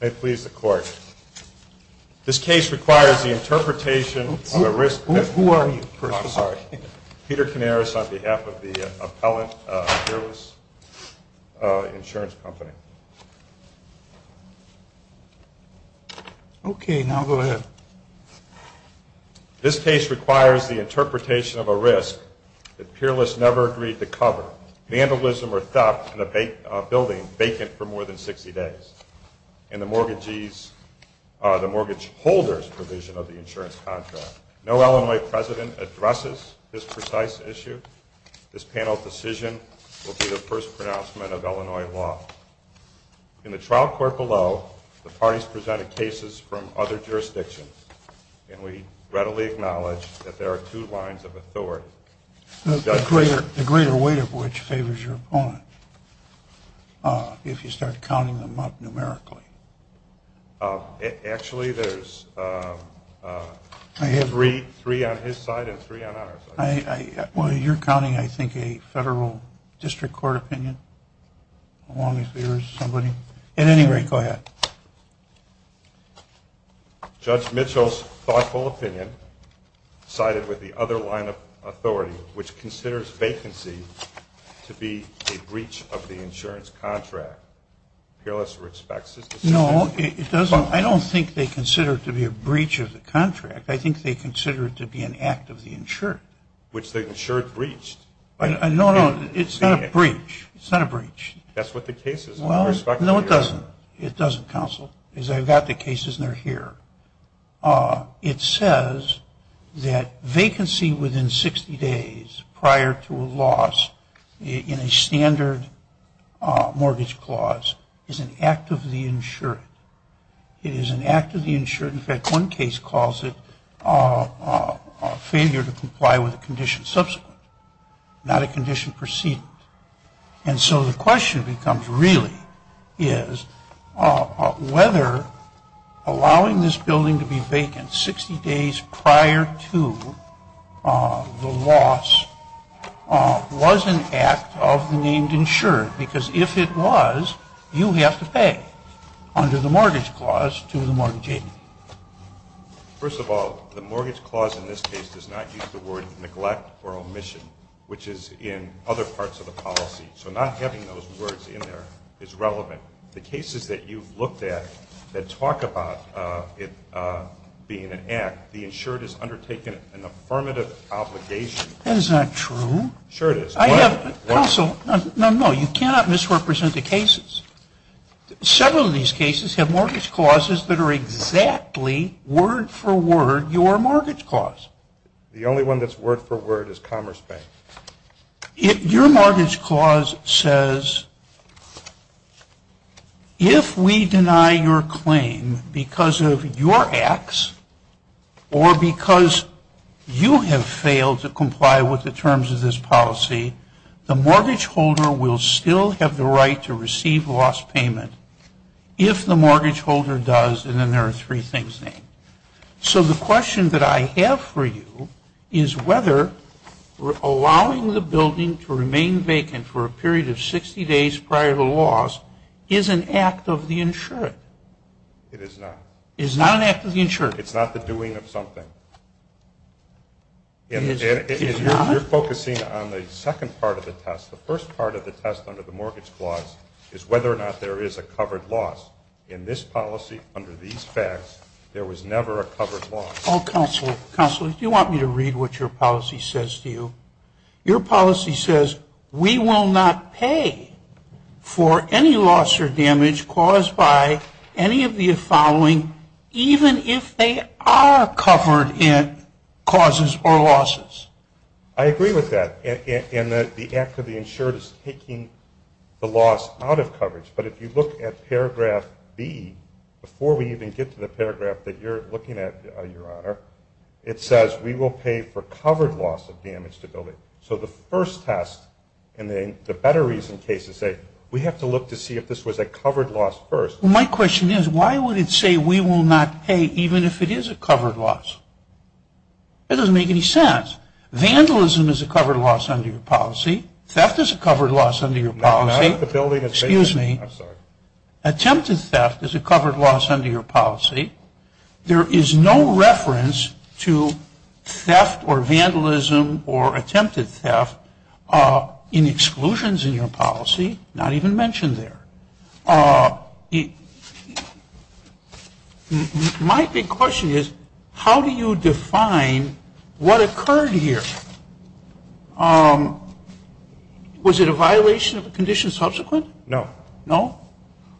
May it please the Court, this case requires the interpretation of a risk that peerless never agreed to cover. Vandalism or theft in a building vacant for more than 60 days. And the mortgage holders provision of the insurance of Illinois law. In the trial court below, the parties presented cases from other jurisdictions. And we readily acknowledge that there are two lines of authority. The greater weight of which favors your opponent. If you start counting them up numerically. Actually, there's three on his side and three on ours. Well, you're counting, I think, a federal district court opinion. At any rate, go ahead. Judge Mitchell's thoughtful opinion sided with the other line of authority, which considers vacancy to be a breach of the insurance contract. Peerless respects his decision. No, it doesn't. I don't think they consider it to be a breach of the contract. I think they consider it to be an act of the insured. Which the insured breached. No, no, it's not a breach. It's not a breach. That's what the case is. No, it doesn't. It doesn't, counsel. Because I've got the cases and they're here. It says that vacancy within 60 days prior to a loss in a standard mortgage clause is an act of the insured. It is an act of the insured. In fact, one case calls it a failure to comply with a condition subsequent, not a condition preceding. And so the question becomes, really, is whether allowing this building to be vacant 60 days prior to the loss was an act of the named insured. Because if it was, you have to pay under the mortgage clause to the mortgage agent. First of all, the mortgage clause in this case does not use the word neglect or omission, which is in other parts of the policy. So not having those words in there is relevant. The cases that you've looked at that talk about it being an act, the insured has undertaken an affirmative obligation. That is not true. Sure it is. I have, counsel, no, no, you cannot misrepresent the cases. Several of these cases have mortgage clauses that are exactly word for word your mortgage clause. The only one that's word for word is Commerce Bank. Your mortgage clause says if we deny your claim because of your acts or because you have failed to comply with the terms of this policy, the mortgage holder will still have the right to receive loss payment if the mortgage holder does. And then there are three things there. So the question that I have for you is whether allowing the building to remain vacant for a period of 60 days prior to loss is an act of the insured. It is not. It is not an act of the insured. It's not the doing of something. It is not? You're focusing on the second part of the test. The first part of the test under the mortgage clause is whether or not there is a covered loss. In this policy, under these facts, there was never a covered loss. Counsel, counsel, do you want me to read what your policy says to you? Your policy says we will not pay for any loss or damage caused by any of the following even if they are covered in causes or losses. I agree with that. And the act of the insured is taking the loss out of coverage. But if you look at paragraph B, before we even get to the paragraph that you're looking at, Your Honor, it says we will pay for covered loss of damage to the building. So the first test and the better reason cases say we have to look to see if this was a covered loss first. Well, my question is why would it say we will not pay even if it is a covered loss? That doesn't make any sense. Vandalism is a covered loss under your policy. Theft is a covered loss under your policy. Excuse me. Attempted theft is a covered loss under your policy. There is no reference to theft or vandalism or attempted theft in exclusions in your policy, not even mentioned there. My big question is how do you define what occurred here? Was it a violation of the condition subsequent? No. No?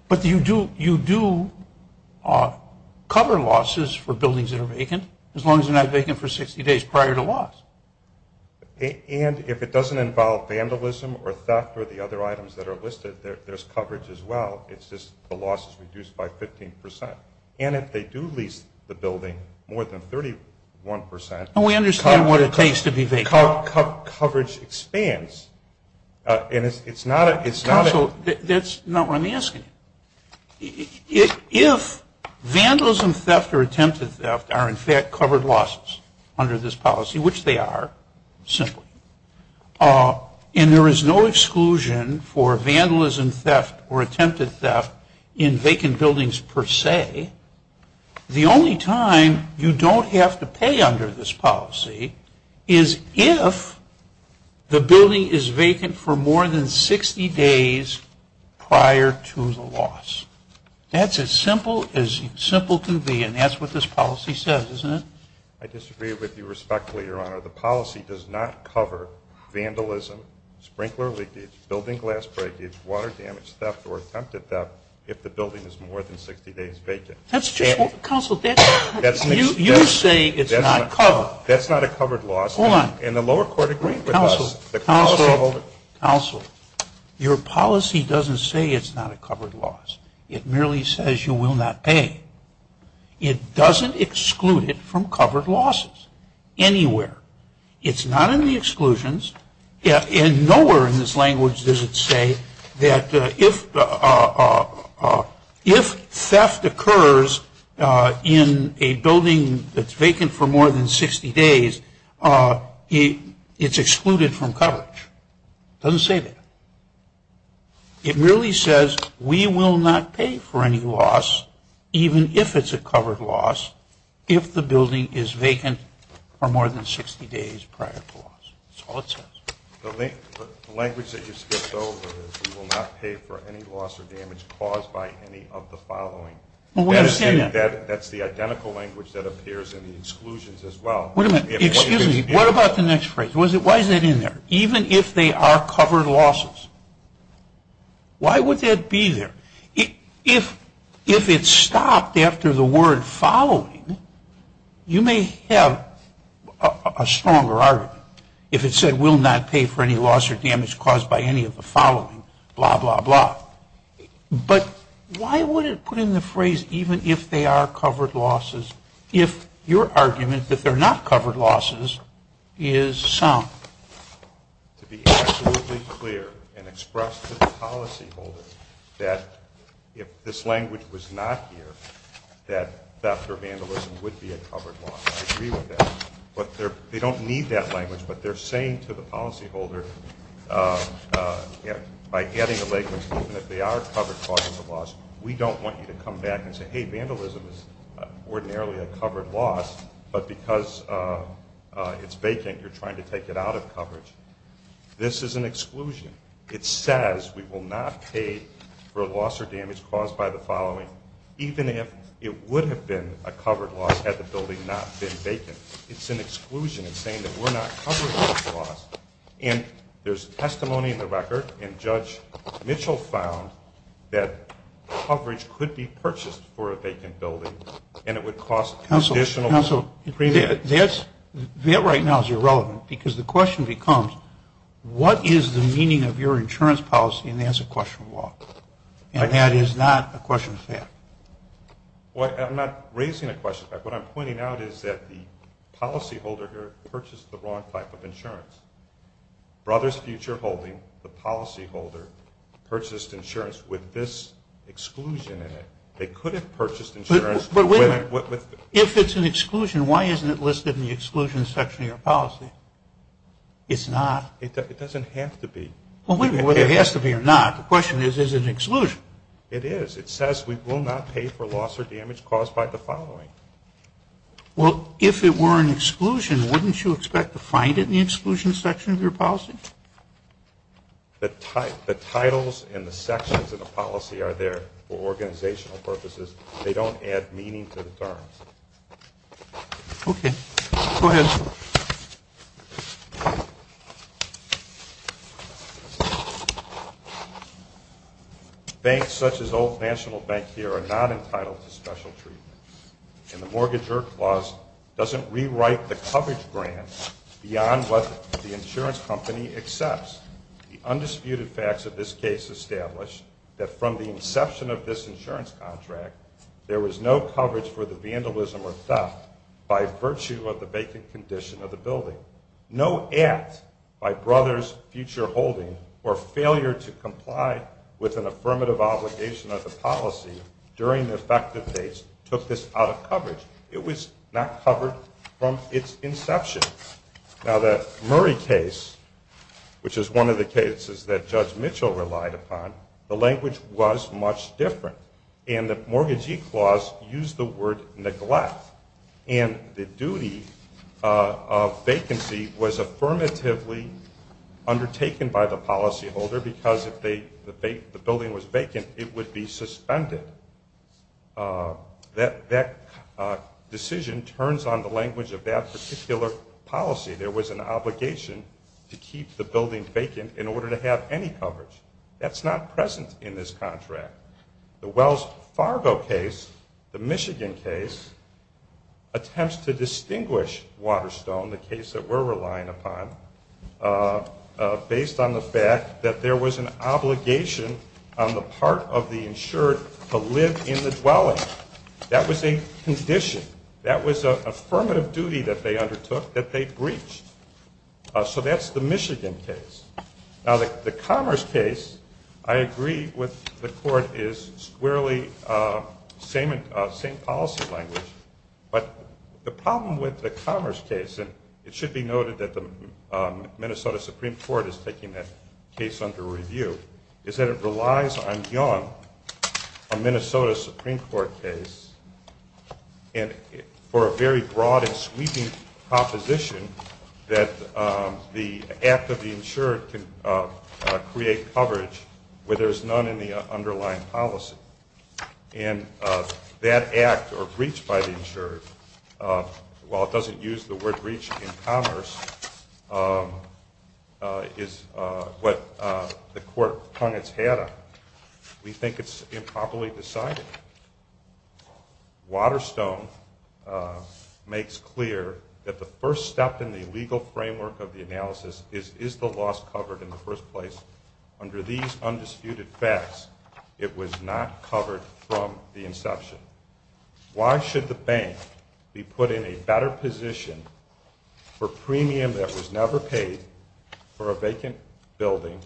But you do cover losses for buildings that are vacant as long as they're not vacant for 60 days prior to loss. And if it doesn't involve vandalism or theft or the other items that are listed, there's coverage as well. It's just the loss is reduced by 15%. And if they do lease the building more than 31% We understand what it takes to be vacant. Coverage expands. And it's not a Counsel, that's not what I'm asking. If vandalism, theft, or attempted theft are in fact covered losses under this policy, which they are, simply, and there is no exclusion for vandalism, theft, or attempted theft in vacant buildings per se, the only time you don't have to pay under this policy is if the building is vacant for more than 60 days prior to the loss. That's as simple as simple can be, and that's what this policy says, isn't it? I disagree with you respectfully, Your Honor. The policy does not cover vandalism, sprinkler leakage, building glass breakage, water damage, theft, or attempted theft if the building is more than 60 days vacant. Counsel, you say it's not covered. That's not a covered loss. Hold on. And the lower court agreed with us. Counsel, Counsel, Counsel. Your policy doesn't say it's not a covered loss. It merely says you will not pay. It doesn't exclude it from covered losses anywhere. It's not in the exclusions. And nowhere in this language does it say that if theft occurs in a building that's vacant for more than 60 days, it's excluded from coverage. It doesn't say that. It merely says we will not pay for any loss, even if it's a covered loss, if the building is vacant for more than 60 days prior to loss. That's all it says. The language that you skipped over is we will not pay for any loss or damage caused by any of the following. That's the identical language that appears in the exclusions as well. Wait a minute. Excuse me. What about the next phrase? Why is that in there? Even if they are covered losses. Why would that be there? If it's stopped after the word following, you may have a stronger argument. If it said we'll not pay for any loss or damage caused by any of the following, blah, blah, blah. But why would it put in the phrase even if they are covered losses, if your argument that they're not covered losses is sound? To be absolutely clear and express to the policyholder that if this language was not here, that theft or vandalism would be a covered loss. I agree with that. But they don't need that language. But they're saying to the policyholder, by adding the language, even if they are covered causing the loss, we don't want you to come back and say, hey, vandalism is ordinarily a covered loss, but because it's vacant, you're trying to take it out of coverage. This is an exclusion. It says we will not pay for a loss or damage caused by the following, even if it would have been a covered loss had the building not been vacant. It's an exclusion. It's saying that we're not covering this loss. And there's testimony in the record, and Judge Mitchell found that coverage could be purchased for a vacant building, and it would cost additional premium. That right now is irrelevant because the question becomes, what is the meaning of your insurance policy? And that's a question of law. And that is not a question of fact. I'm not raising a question of fact. What I'm pointing out is that the policyholder here purchased the wrong type of insurance. Brothers Future Holding, the policyholder, purchased insurance with this exclusion in it. They could have purchased insurance with it. If it's an exclusion, why isn't it listed in the exclusion section of your policy? It's not. It doesn't have to be. Well, it has to be or not. The question is, is it an exclusion? It is. It says we will not pay for loss or damage caused by the following. Well, if it were an exclusion, wouldn't you expect to find it in the exclusion section of your policy? The titles and the sections of the policy are there for organizational purposes. They don't add meaning to the terms. Okay. Go ahead. Banks such as Old National Bank here are not entitled to special treatment. And the Mortgager Clause doesn't rewrite the coverage grant beyond what the insurance company accepts. The undisputed facts of this case establish that from the inception of this insurance contract, there was no coverage for the vandalism or theft by virtue of the vacant condition of the building. No act by Brothers Future Holding or failure to comply with an affirmative obligation of the policy during the effective dates took this out of coverage. It was not covered from its inception. Now, the Murray case, which is one of the cases that Judge Mitchell relied upon, the language was much different. And the Mortgagee Clause used the word neglect. And the duty of vacancy was affirmatively undertaken by the policyholder because if the building was vacant, it would be suspended. That decision turns on the language of that particular policy. There was an obligation to keep the building vacant in order to have any coverage. That's not present in this contract. The Wells Fargo case, the Michigan case, attempts to distinguish Waterstone, the case that we're relying upon, based on the fact that there was an obligation on the part of the insured to live in the dwelling. That was a condition. That was an affirmative duty that they undertook that they breached. So that's the Michigan case. Now, the Commerce case, I agree with the court, is squarely same policy language. But the problem with the Commerce case, and it should be noted that the Minnesota Supreme Court is taking that case under review, is that it relies on young, a Minnesota Supreme Court case, and for a very broad and sweeping proposition that the act of the insured can create coverage where there's none in the underlying policy. And that act, or breach by the insured, while it doesn't use the word breach in Commerce, is what the court hung its hat on. We think it's improperly decided. Waterstone makes clear that the first step in the legal framework of the analysis is, is the loss covered in the first place? Under these undisputed facts, it was not covered from the inception. Why should the bank be put in a better position for premium that was never paid for a vacant building,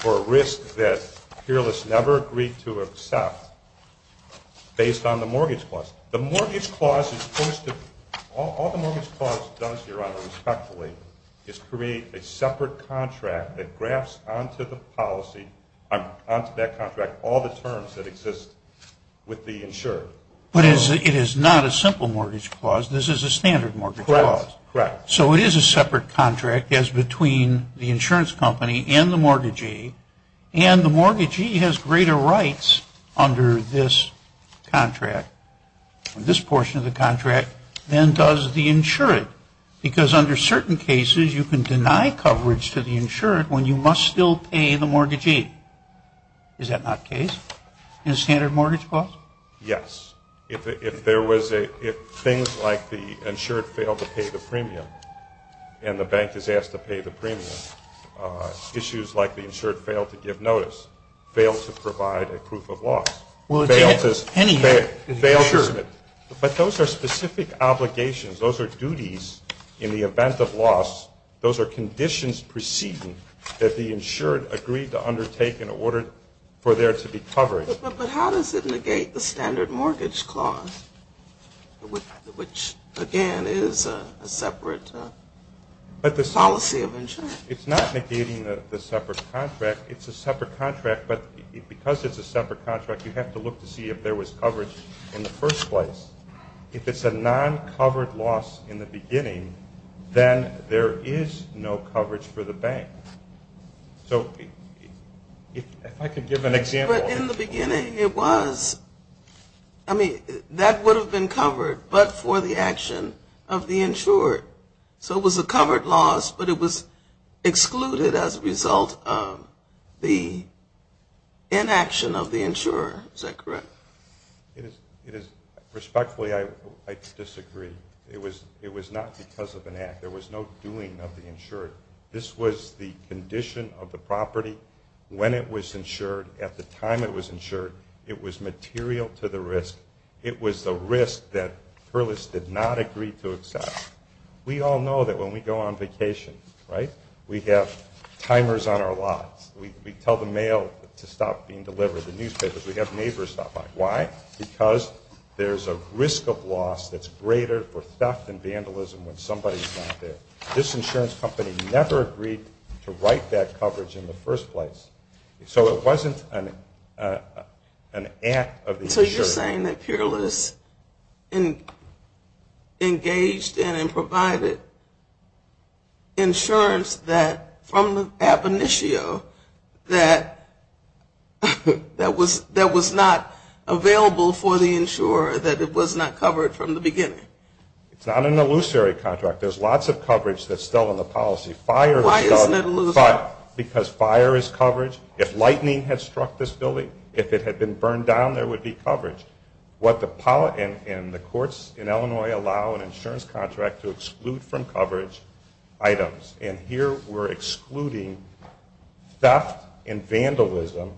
for a risk that Peerless never agreed to accept, based on the mortgage clause? The mortgage clause is supposed to, all the mortgage clause does, Your Honor, respectfully, is create a separate contract that graphs onto the policy, onto that contract, all the terms that exist with the insured. But it is not a simple mortgage clause. This is a standard mortgage clause. Correct. So it is a separate contract as between the insurance company and the mortgagee, and the mortgagee has greater rights under this contract, this portion of the contract, than does the insured. Because under certain cases, you can deny coverage to the insured when you must still pay the mortgagee. Is that not the case in a standard mortgage clause? Yes. If there was a, if things like the insured failed to pay the premium, and the bank is asked to pay the premium, issues like the insured failed to give notice, failed to provide a proof of loss, failed to, failed to, but those are specific obligations. Those are duties in the event of loss. Those are conditions preceding that the insured agreed to undertake in order for there to be coverage. But how does it negate the standard mortgage clause, which, again, is a separate policy of insurance? It's not negating the separate contract. It's a separate contract, but because it's a separate contract, you have to look to see if there was coverage in the first place. If it's a non-covered loss in the beginning, then there is no coverage for the bank. So if I could give an example. But in the beginning, it was. I mean, that would have been covered, but for the action of the insured. So it was a covered loss, but it was excluded as a result of the inaction of the insurer. Is that correct? It is. Respectfully, I disagree. It was not because of an act. There was no doing of the insured. This was the condition of the property when it was insured, at the time it was insured. It was material to the risk. It was the risk that Perlis did not agree to accept. We all know that when we go on vacation, right, we have timers on our lots. We tell the mail to stop being delivered, the newspapers. We have neighbors stop by. Why? Because there's a risk of loss that's greater for theft and vandalism when somebody's not there. This insurance company never agreed to write that coverage in the first place. So it wasn't an act of the insured. You're saying that Perlis engaged in and provided insurance from the ab initio that was not available for the insurer, that it was not covered from the beginning. It's not an illusory contract. There's lots of coverage that's still in the policy. Why isn't it illusory? Because fire is coverage. If lightning had struck this building, if it had been burned down, there would be coverage. And the courts in Illinois allow an insurance contract to exclude from coverage items. And here we're excluding theft and vandalism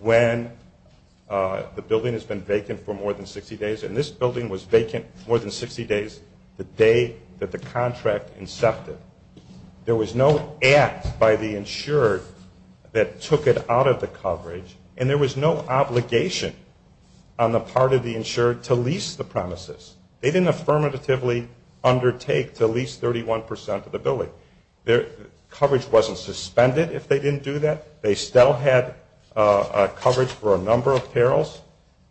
when the building has been vacant for more than 60 days. And this building was vacant more than 60 days the day that the contract incepted. There was no act by the insured that took it out of the coverage, and there was no obligation on the part of the insured to lease the premises. They didn't affirmatively undertake to lease 31 percent of the building. Coverage wasn't suspended if they didn't do that.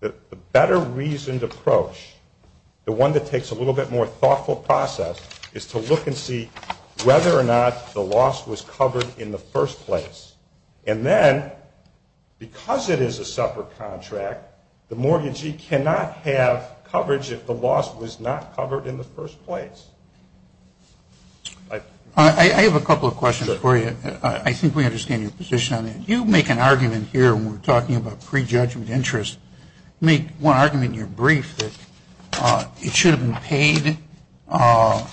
The better reasoned approach, the one that takes a little bit more thoughtful process, is to look and see whether or not the loss was covered in the first place. And then, because it is a separate contract, the mortgagee cannot have coverage if the loss was not covered in the first place. I have a couple of questions for you. I think we understand your position on that. You make an argument here when we're talking about prejudgment interest. You make one argument in your brief that it should have been paid by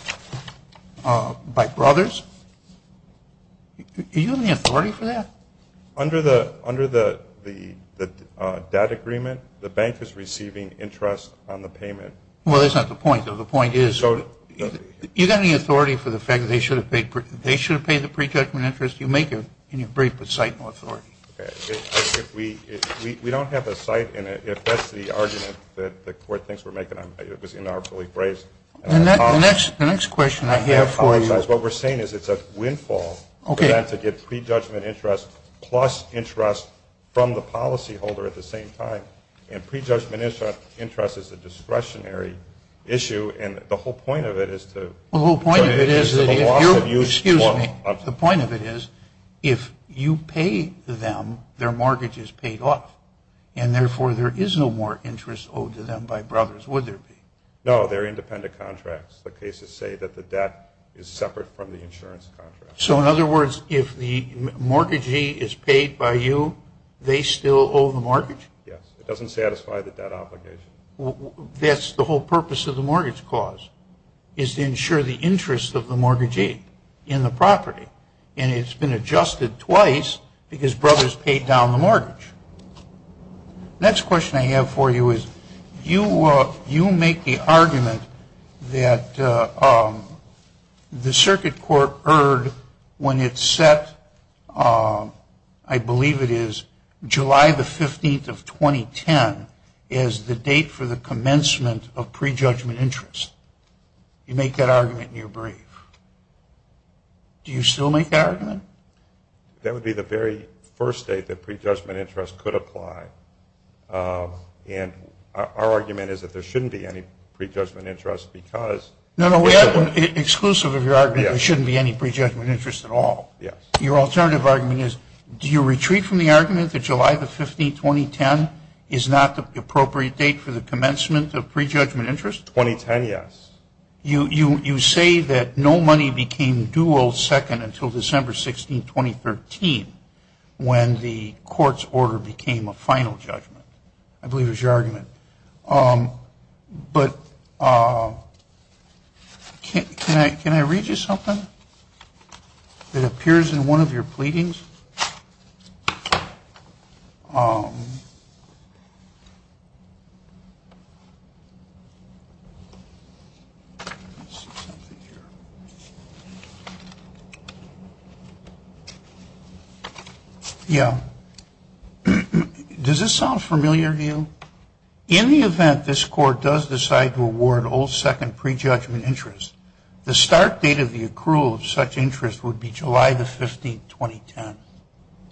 brothers. Do you have any authority for that? Under the debt agreement, the bank is receiving interest on the payment. Well, that's not the point, though. The point is you've got any authority for the fact that they should have paid the prejudgment interest? You make it in your brief with sight and authority. Okay. We don't have a sight in it. If that's the argument that the Court thinks we're making, it was in our brief. The next question I have for you. I apologize. What we're saying is it's a windfall to get prejudgment interest plus interest from the policyholder at the same time. And prejudgment interest is a discretionary issue, and the whole point of it is to Excuse me. The point of it is if you pay them, their mortgage is paid off, and therefore there is no more interest owed to them by brothers, would there be? No, they're independent contracts. The cases say that the debt is separate from the insurance contract. So, in other words, if the mortgagee is paid by you, they still owe the mortgage? Yes. It doesn't satisfy the debt obligation. That's the whole purpose of the mortgage clause, is to ensure the interest of the mortgagee in the property. And it's been adjusted twice because brothers paid down the mortgage. Next question I have for you is you make the argument that the Circuit Court heard when it set, I believe it is, July the 15th of 2010 as the date for the commencement of prejudgment interest. You make that argument and you're brave. Do you still make that argument? That would be the very first date that prejudgment interest could apply. And our argument is that there shouldn't be any prejudgment interest because No, no, we have one exclusive of your argument. There shouldn't be any prejudgment interest at all. Yes. Your alternative argument is do you retreat from the argument that July the 15th, 2010, is not the appropriate date for the commencement of prejudgment interest? 2010, yes. You say that no money became dual second until December 16, 2013, when the court's order became a final judgment, I believe is your argument. But can I read you something that appears in one of your pleadings? Yeah. Does this sound familiar to you? In the event this court does decide to award old second prejudgment interest, the start date of the accrual of such interest would be July the 15th, 2010. Does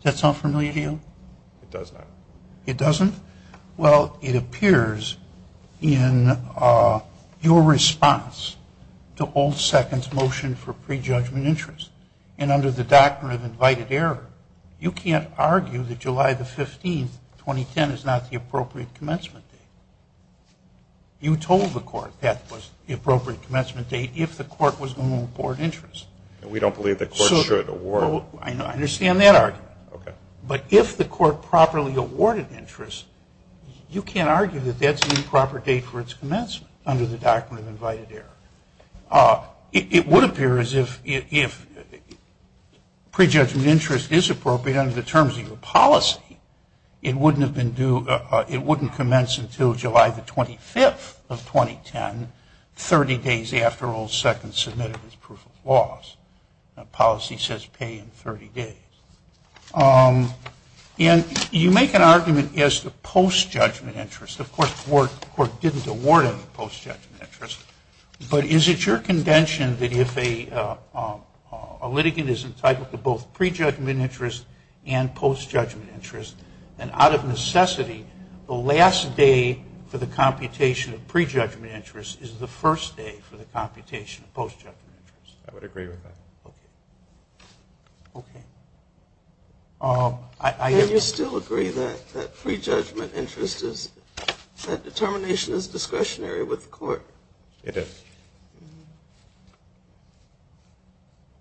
that sound familiar to you? It does not. It doesn't? Well, it appears in your response to old second's motion for prejudgment interest. And under the doctrine of invited error, you can't argue that July the 15th, 2010, is not the appropriate commencement date. You told the court that was the appropriate commencement date if the court was going to award interest. We don't believe the court should award. I understand that argument. Okay. But if the court properly awarded interest, you can't argue that that's the improper date for its commencement under the doctrine of invited error. It would appear as if prejudgment interest is appropriate under the terms of your policy. It wouldn't commence until July the 25th of 2010, 30 days after old second submitted his proof of laws. Policy says pay in 30 days. And you make an argument as to post-judgment interest. Of course, the court didn't award him post-judgment interest. But is it your contention that if a litigant is entitled to both pre-judgment interest and post-judgment interest, then out of necessity, the last day for the computation of pre-judgment interest is the first day for the computation of post-judgment interest? I would agree with that. Okay. Can you still agree that pre-judgment interest is that determination is discretionary with the court? It is.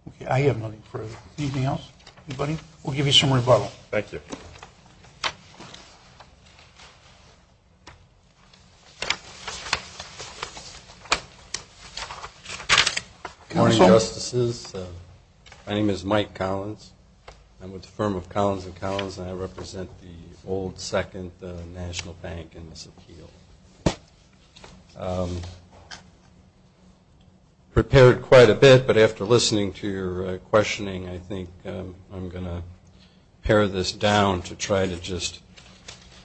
Okay. I have nothing further. Anything else? Anybody? We'll give you some rebuttal. Thank you. Good morning, Justices. My name is Mike Collins. I'm with the firm of Collins & Collins, and I represent the old second national bank in this appeal. Prepared quite a bit, but after listening to your questioning, I think I'm going to pare this down to try to just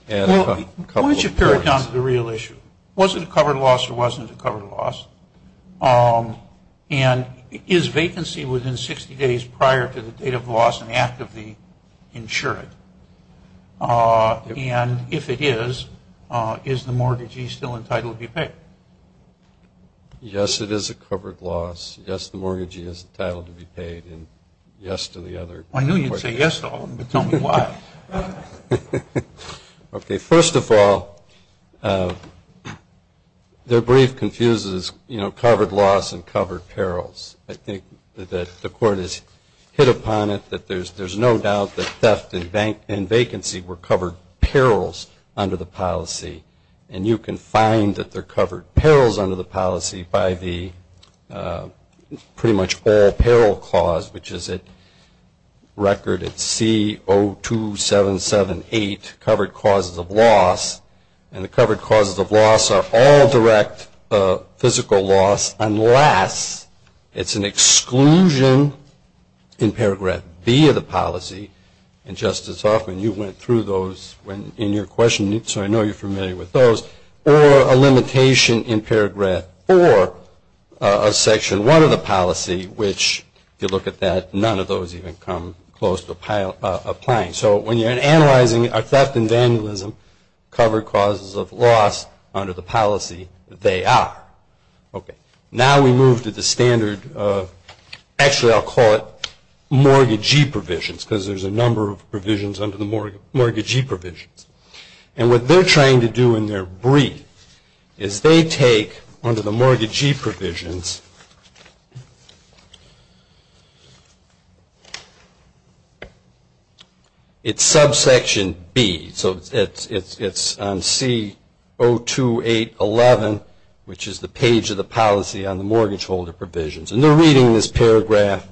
add a couple of points. Why don't you pare it down to the real issue? Was it a covered loss or wasn't it a covered loss? And is vacancy within 60 days prior to the date of loss an act of the insured? And if it is, is the mortgagee still entitled to be paid? Yes, it is a covered loss. Yes, the mortgagee is entitled to be paid. And yes to the other questions. I knew you'd say yes to all of them, but tell me why. Okay, first of all, their brief confuses covered loss and covered perils. I think that the Court has hit upon it, that there's no doubt that theft and vacancy were covered perils under the policy. And you can find that they're covered perils under the policy by the pretty much all 2778 covered causes of loss. And the covered causes of loss are all direct physical loss, unless it's an exclusion in Paragraph B of the policy. And, Justice Hoffman, you went through those in your questioning, so I know you're familiar with those. Or a limitation in Paragraph 4 of Section 1 of the policy, which if you look at that, none of those even come close to applying. So when you're analyzing a theft and vandalism, covered causes of loss under the policy, they are. Now we move to the standard, actually I'll call it mortgagee provisions, because there's a number of provisions under the mortgagee provisions. And what they're trying to do in their brief is they take, under the mortgagee provisions, it's subsection B. So it's on C02811, which is the page of the policy on the mortgage holder provisions. And they're reading this paragraph,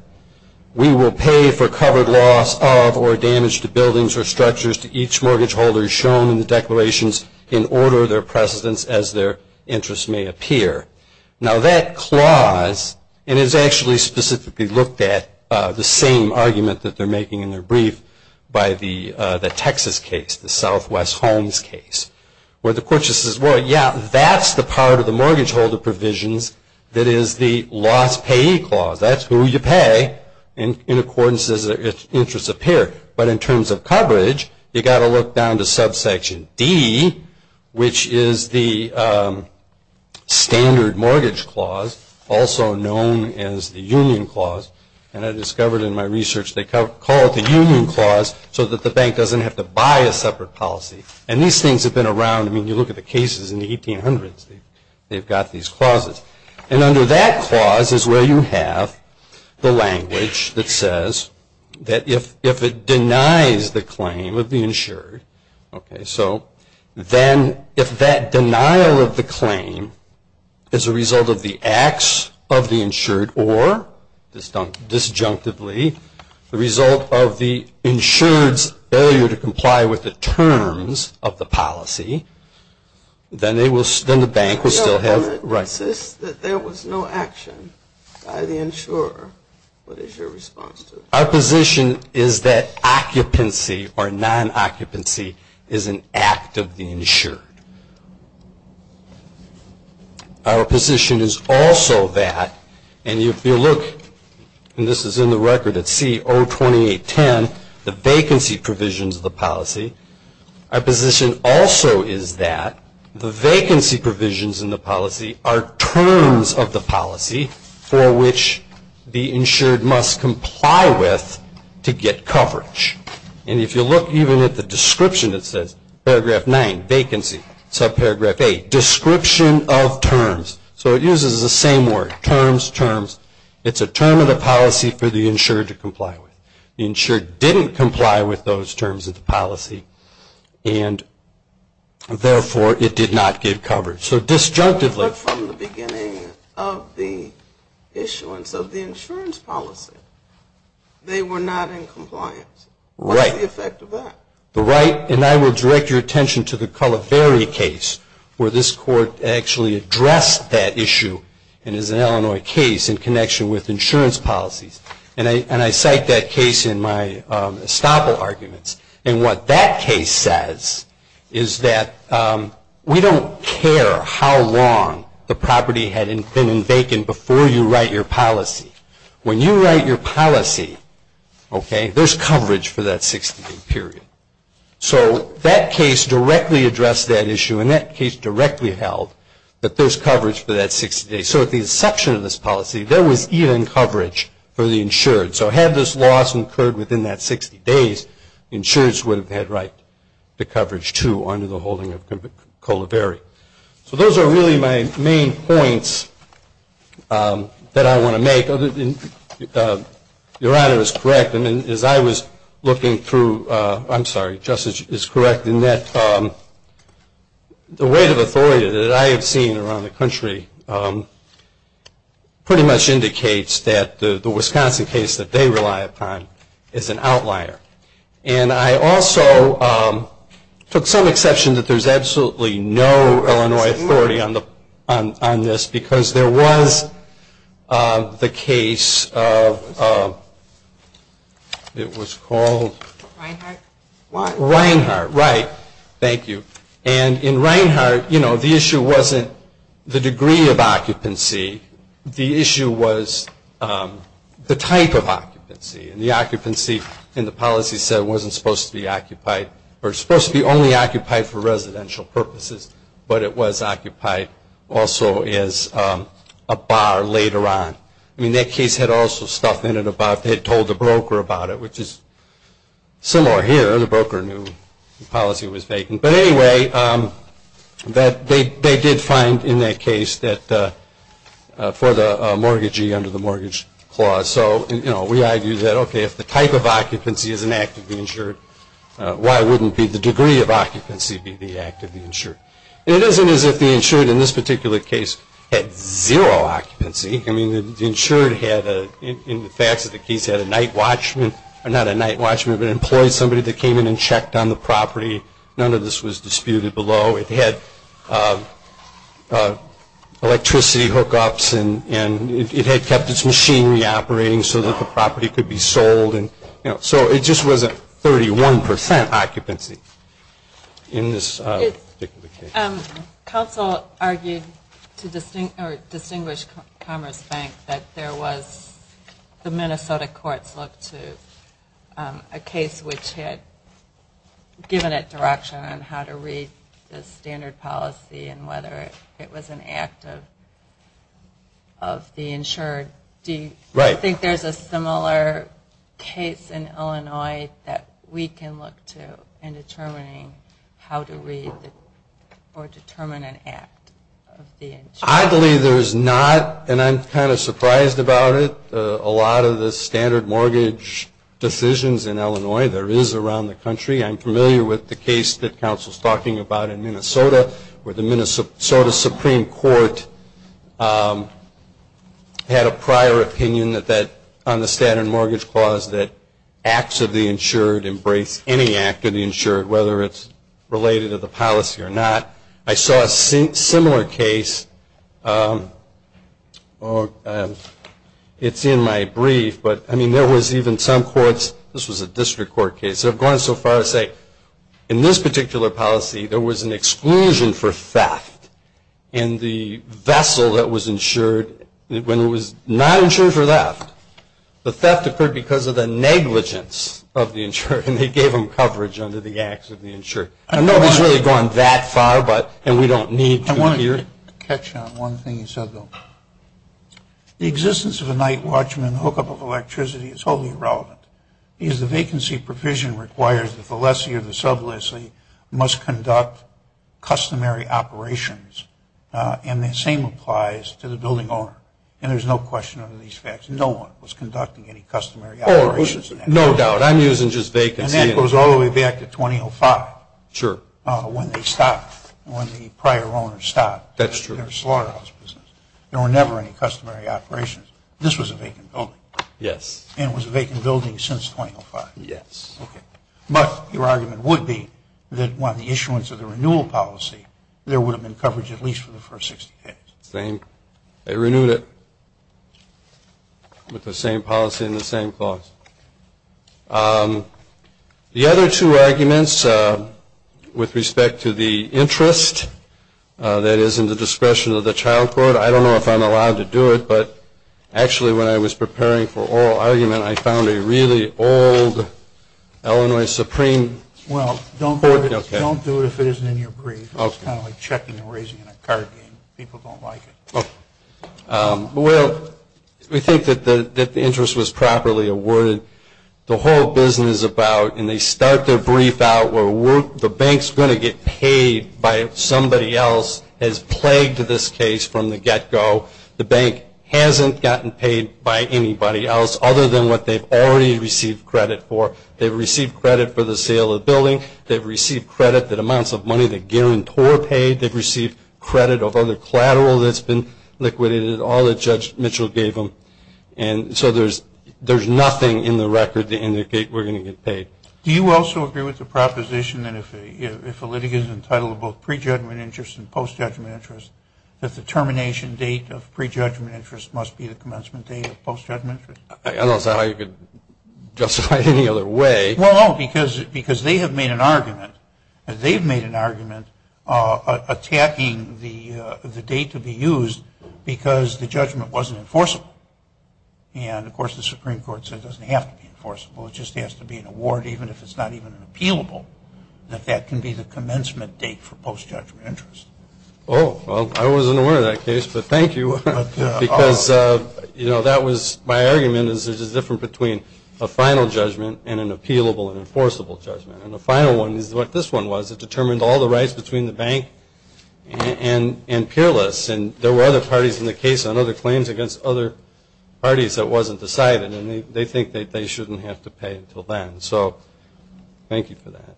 We will pay for covered loss of or damage to buildings or structures to each mortgage holder shown in the declarations in order of their precedence as their interest may appear. Now that clause, and it's actually specifically looked at, the same argument that they're making in their brief by the Texas case, the Southwest Homes case, where the court just says, well, yeah, that's the part of the mortgage holder provisions that is the loss payee clause. That's who you pay in accordance as their interest appear. But in terms of coverage, you've got to look down to subsection D, which is the standard mortgage clause, also known as the union clause. And I discovered in my research they call it the union clause so that the bank doesn't have to buy a separate policy. And these things have been around. I mean, you look at the cases in the 1800s, they've got these clauses. And under that clause is where you have the language that says that if it denies the claim of the insured, okay, so then if that denial of the claim is a result of the acts of the insured or disjunctively, the result of the insured's failure to comply with the terms of the policy, then the bank will still have rights. I know, but it says that there was no action by the insurer. What is your response to that? Our position is that occupancy or non-occupancy is an act of the insured. Our position is also that, and if you look, and this is in the record at C-02810, the vacancy provisions of the policy. Our position also is that the vacancy provisions in the policy are terms of the policy for which the insured must comply with to get coverage. And if you look even at the description, it says, paragraph 9, vacancy. Subparagraph 8, description of terms. So it uses the same word, terms, terms. It's a term of the policy for the insured to comply with. The insured didn't comply with those terms of the policy, and therefore it did not get coverage. So disjunctively. But from the beginning of the issuance of the insurance policy, they were not in compliance. Right. What's the effect of that? The right, and I will direct your attention to the Cullivary case, where this court actually addressed that issue, and it's an Illinois case in connection with insurance policies. And I cite that case in my estoppel arguments. And what that case says is that we don't care how long the property had been in vacant before you write your policy. When you write your policy, okay, there's coverage for that 60-day period. So that case directly addressed that issue, and that case directly held that there's coverage for that 60 days. So at the inception of this policy, there was even coverage for the insured. So had this loss occurred within that 60 days, insurers would have had right to coverage, too, under the holding of Cullivary. So those are really my main points that I want to make. Your Honor is correct. As I was looking through, I'm sorry, Justice is correct in that the weight of authority that I have seen around the country pretty much indicates that the Wisconsin case that they rely upon is an outlier. And I also took some exception that there's absolutely no Illinois authority on this because there was the case of, it was called? Reinhart. Reinhart, right. Thank you. And in Reinhart, you know, the issue wasn't the degree of occupancy. The issue was the type of occupancy. And the occupancy in the policy set wasn't supposed to be occupied or supposed to be only occupied for residential purposes, but it was occupied also as a bar later on. I mean, that case had also stuff in it about they had told the broker about it, which is similar here. The broker knew the policy was vacant. But anyway, they did find in that case that for the mortgagee under the mortgage clause. So, you know, we argue that, okay, if the type of occupancy is an act of the insured, why wouldn't the degree of occupancy be the act of the insured? It isn't as if the insured in this particular case had zero occupancy. I mean, the insured had, in the facts of the case, had a night watchman, or not a night watchman, but employed somebody that came in and checked on the property. None of this was disputed below. It had electricity hookups, and it had kept its machinery operating so that the property could be sold. So it just wasn't 31 percent occupancy in this particular case. Council argued to distinguish Commerce Bank that there was, the Minnesota courts looked to a case which had given it direction on how to read the standard policy and whether it was an act of the insured. Do you think there's a similar case in Illinois that we can look to in determining how to read Oddly, there's not, and I'm kind of surprised about it. A lot of the standard mortgage decisions in Illinois, there is around the country. I'm familiar with the case that Council's talking about in Minnesota, where the Minnesota Supreme Court had a prior opinion on the standard mortgage clause that acts of the insured embrace any act of the insured, whether it's related to the policy or not. I saw a similar case, it's in my brief, but I mean there was even some courts, this was a district court case, have gone so far as to say in this particular policy, there was an exclusion for theft in the vessel that was insured. When it was not insured for theft, the theft occurred because of the negligence of the insured, and they gave them coverage under the acts of the insured. Nobody's really gone that far, and we don't need to here. I want to catch on one thing you said, Bill. The existence of a night watchman hookup of electricity is totally irrelevant, because the vacancy provision requires that the lessee or the sub lessee must conduct customary operations, and the same applies to the building owner, and there's no question under these facts. No one was conducting any customary operations. No doubt. I'm using just vacancy. And that goes all the way back to 2005. Sure. When they stopped, when the prior owners stopped. That's true. Their slaughterhouse business. There were never any customary operations. This was a vacant building. Yes. And it was a vacant building since 2005. Yes. Okay. But your argument would be that when the issuance of the renewal policy, there would have been coverage at least for the first 60 days. They renewed it with the same policy and the same clause. The other two arguments with respect to the interest that is in the discretion of the child court, I don't know if I'm allowed to do it, but actually when I was preparing for oral argument, I found a really old Illinois Supreme Court. Well, don't do it if it isn't in your brief. It's kind of like checking and raising a card game. People don't like it. Okay. Well, we think that the interest was properly awarded. The whole business about, and they start their brief out where the bank's going to get paid by somebody else, has plagued this case from the get-go. The bank hasn't gotten paid by anybody else other than what they've already received credit for. They've received credit for the sale of the building. They've received credit that amounts of money the guarantor paid. They've received credit of other collateral that's been liquidated, all that Judge Mitchell gave them. And so there's nothing in the record to indicate we're going to get paid. Do you also agree with the proposition that if a litigant is entitled to both pre-judgment interest and post-judgment interest, that the termination date of pre-judgment interest must be the commencement date of post-judgment interest? I don't see how you could justify it any other way. Well, no, because they have made an argument. They've made an argument attacking the date to be used because the judgment wasn't enforceable. And, of course, the Supreme Court said it doesn't have to be enforceable. It just has to be an award, even if it's not even an appealable, that that can be the commencement date for post-judgment interest. Oh, well, I wasn't aware of that case, but thank you. Because, you know, that was my argument is there's a difference between a final judgment and an appealable and enforceable judgment. And the final one is what this one was. It determined all the rights between the bank and peerless. And there were other parties in the case on other claims against other parties that wasn't decided, and they think that they shouldn't have to pay until then. So thank you for that.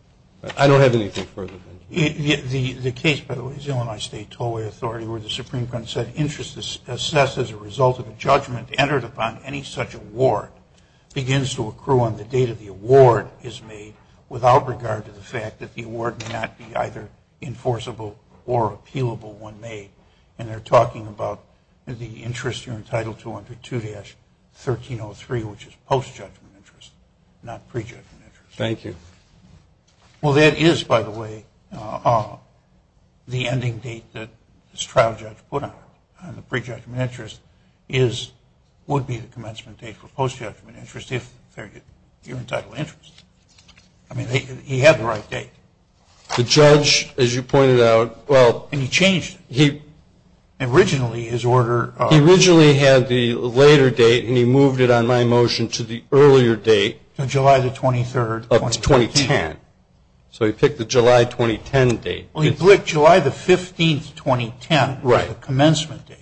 I don't have anything further. The case, by the way, is the Illinois State Tollway Authority, where the Supreme Court said interest is assessed as a result of a judgment entered upon any such award begins to accrue on the date of the award is made without regard to the fact that the award may not be either enforceable or appealable when made. And they're talking about the interest here in Title 202-1303, which is post-judgment interest, not pre-judgment interest. Thank you. Well, that is, by the way, the ending date that this trial judge put on it, and the pre-judgment interest would be the commencement date for post-judgment interest if you're entitled to interest. I mean, he had the right date. The judge, as you pointed out, well... And he changed it. Originally his order... He originally had the later date, and he moved it on my motion to the earlier date. July the 23rd... Of 2010. So he picked the July 2010 date. Well, he picked July the 15th, 2010 as the commencement date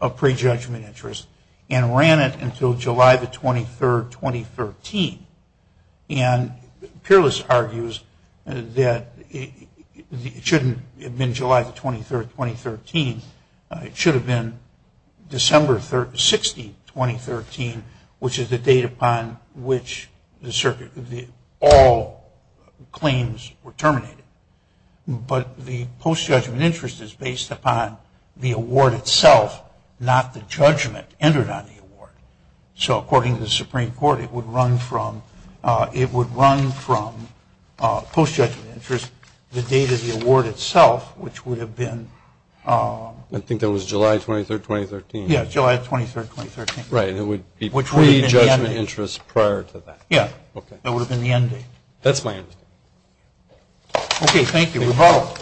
of pre-judgment interest and ran it until July the 23rd, 2013. And Peerless argues that it shouldn't have been July the 23rd, 2013. It should have been December 16th, 2013, which is the date upon which all claims were terminated. But the post-judgment interest is based upon the award itself, not the judgment entered on the award. So according to the Supreme Court, it would run from post-judgment interest, to the date of the award itself, which would have been... I think that was July 23rd, 2013. Yes, July 23rd, 2013. Right. It would be pre-judgment interest prior to that. Yes. Okay. That would have been the end date. That's my understanding. Okay. Thank you. We're all...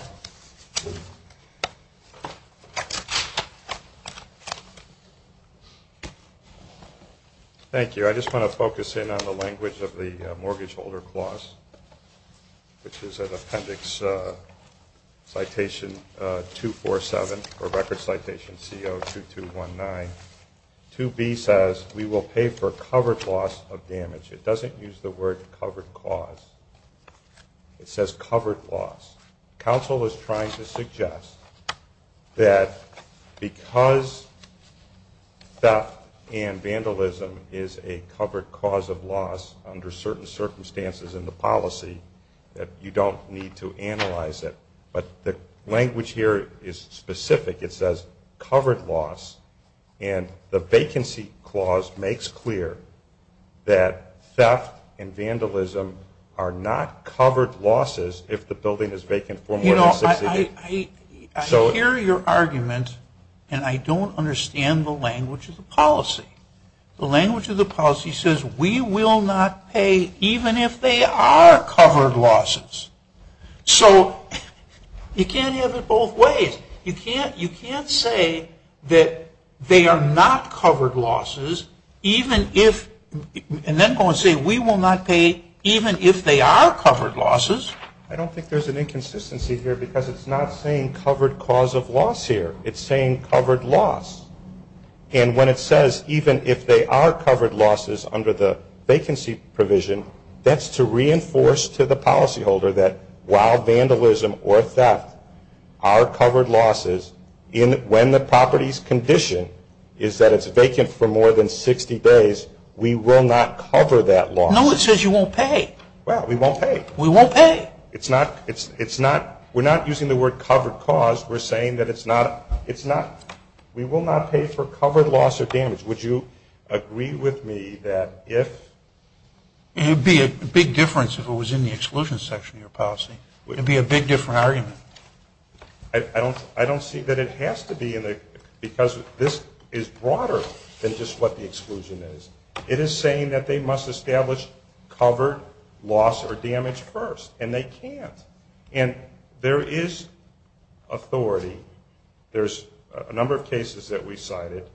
Thank you. I just want to focus in on the language of the Mortgage Holder Clause, which is in Appendix Citation 247, or Record Citation CO-2219. 2B says, We will pay for covered loss of damage. It doesn't use the word covered cause. It says covered loss. Council is trying to suggest that because theft and vandalism is a covered cause of loss under certain circumstances in the policy, that you don't need to analyze it. But the language here is specific. It says covered loss. And the Vacancy Clause makes clear that theft and vandalism are not covered losses if the building is vacant for more than six weeks. You know, I hear your argument, and I don't understand the language of the policy. The language of the policy says we will not pay even if they are covered losses. So you can't have it both ways. You can't say that they are not covered losses even if... You can't then go and say we will not pay even if they are covered losses. I don't think there's an inconsistency here because it's not saying covered cause of loss here. It's saying covered loss. And when it says even if they are covered losses under the vacancy provision, that's to reinforce to the policyholder that while vandalism or theft are covered losses, when the property's condition is that it's vacant for more than 60 days, we will not cover that loss. No, it says you won't pay. Well, we won't pay. We won't pay. It's not... It's not... We're not using the word covered cause. We're saying that it's not... It's not... We will not pay for covered loss or damage. Would you agree with me that if... It would be a big difference if it was in the exclusion section of your policy. It would be a big different argument. I don't see that it has to be because this is broader than just what the exclusion is. It is saying that they must establish covered loss or damage first, and they can't. And there is authority. There's a number of cases that we cited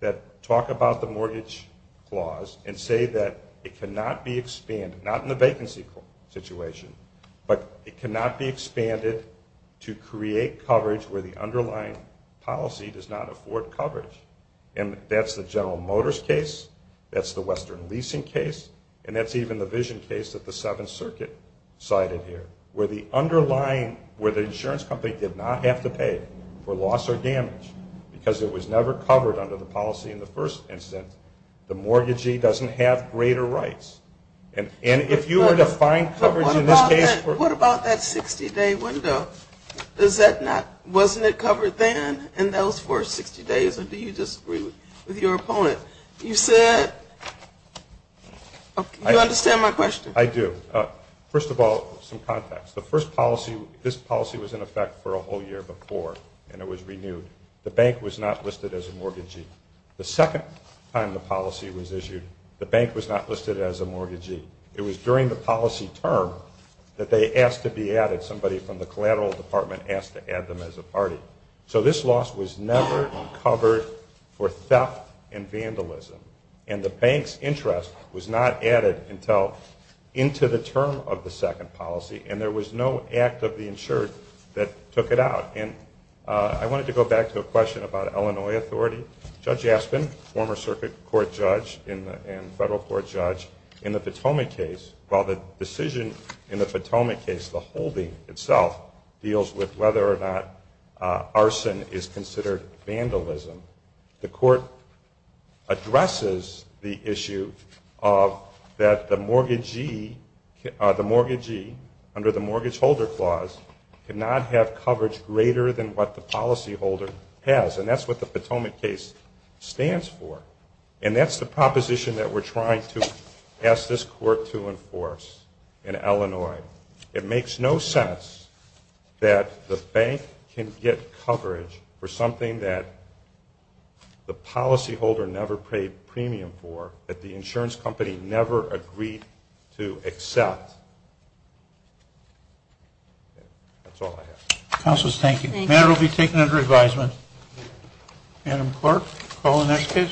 that talk about the mortgage clause and say that it cannot be expanded, not in the vacancy situation, but it cannot be expanded to create coverage where the underlying policy does not afford coverage. And that's the General Motors case, that's the Western Leasing case, and that's even the vision case that the Seventh Circuit cited here, where the underlying, where the insurance company did not have to pay for loss or damage because it was never covered under the policy in the first instance, the mortgagee doesn't have greater rights. And if you were to find coverage in this case... What about that 60-day window? Wasn't it covered then in those first 60 days, or do you disagree with your opponent? You said... You understand my question? I do. First of all, some context. The first policy, this policy was in effect for a whole year before, and it was renewed. The bank was not listed as a mortgagee. The second time the policy was issued, the bank was not listed as a mortgagee. It was during the policy term that they asked to be added. Somebody from the collateral department asked to add them as a party. So this loss was never covered for theft and vandalism, and the bank's interest was not added until into the term of the second policy, and there was no act of the insured that took it out. I wanted to go back to a question about Illinois authority. Judge Aspin, former circuit court judge and federal court judge, in the Potomac case, while the decision in the Potomac case, the holding itself, deals with whether or not arson is considered vandalism, the court addresses the issue of that the mortgagee, under the mortgage holder clause, cannot have coverage greater than what the policy holder has, and that's what the Potomac case stands for, and that's the proposition that we're trying to ask this court to enforce in Illinois. It makes no sense that the bank can get coverage for something that the policy holder never paid premium for, that the insurance company never agreed to accept. That's all I have. Counselors, thank you. Thank you. The matter will be taken under advisement. Madam Clerk, call the next case.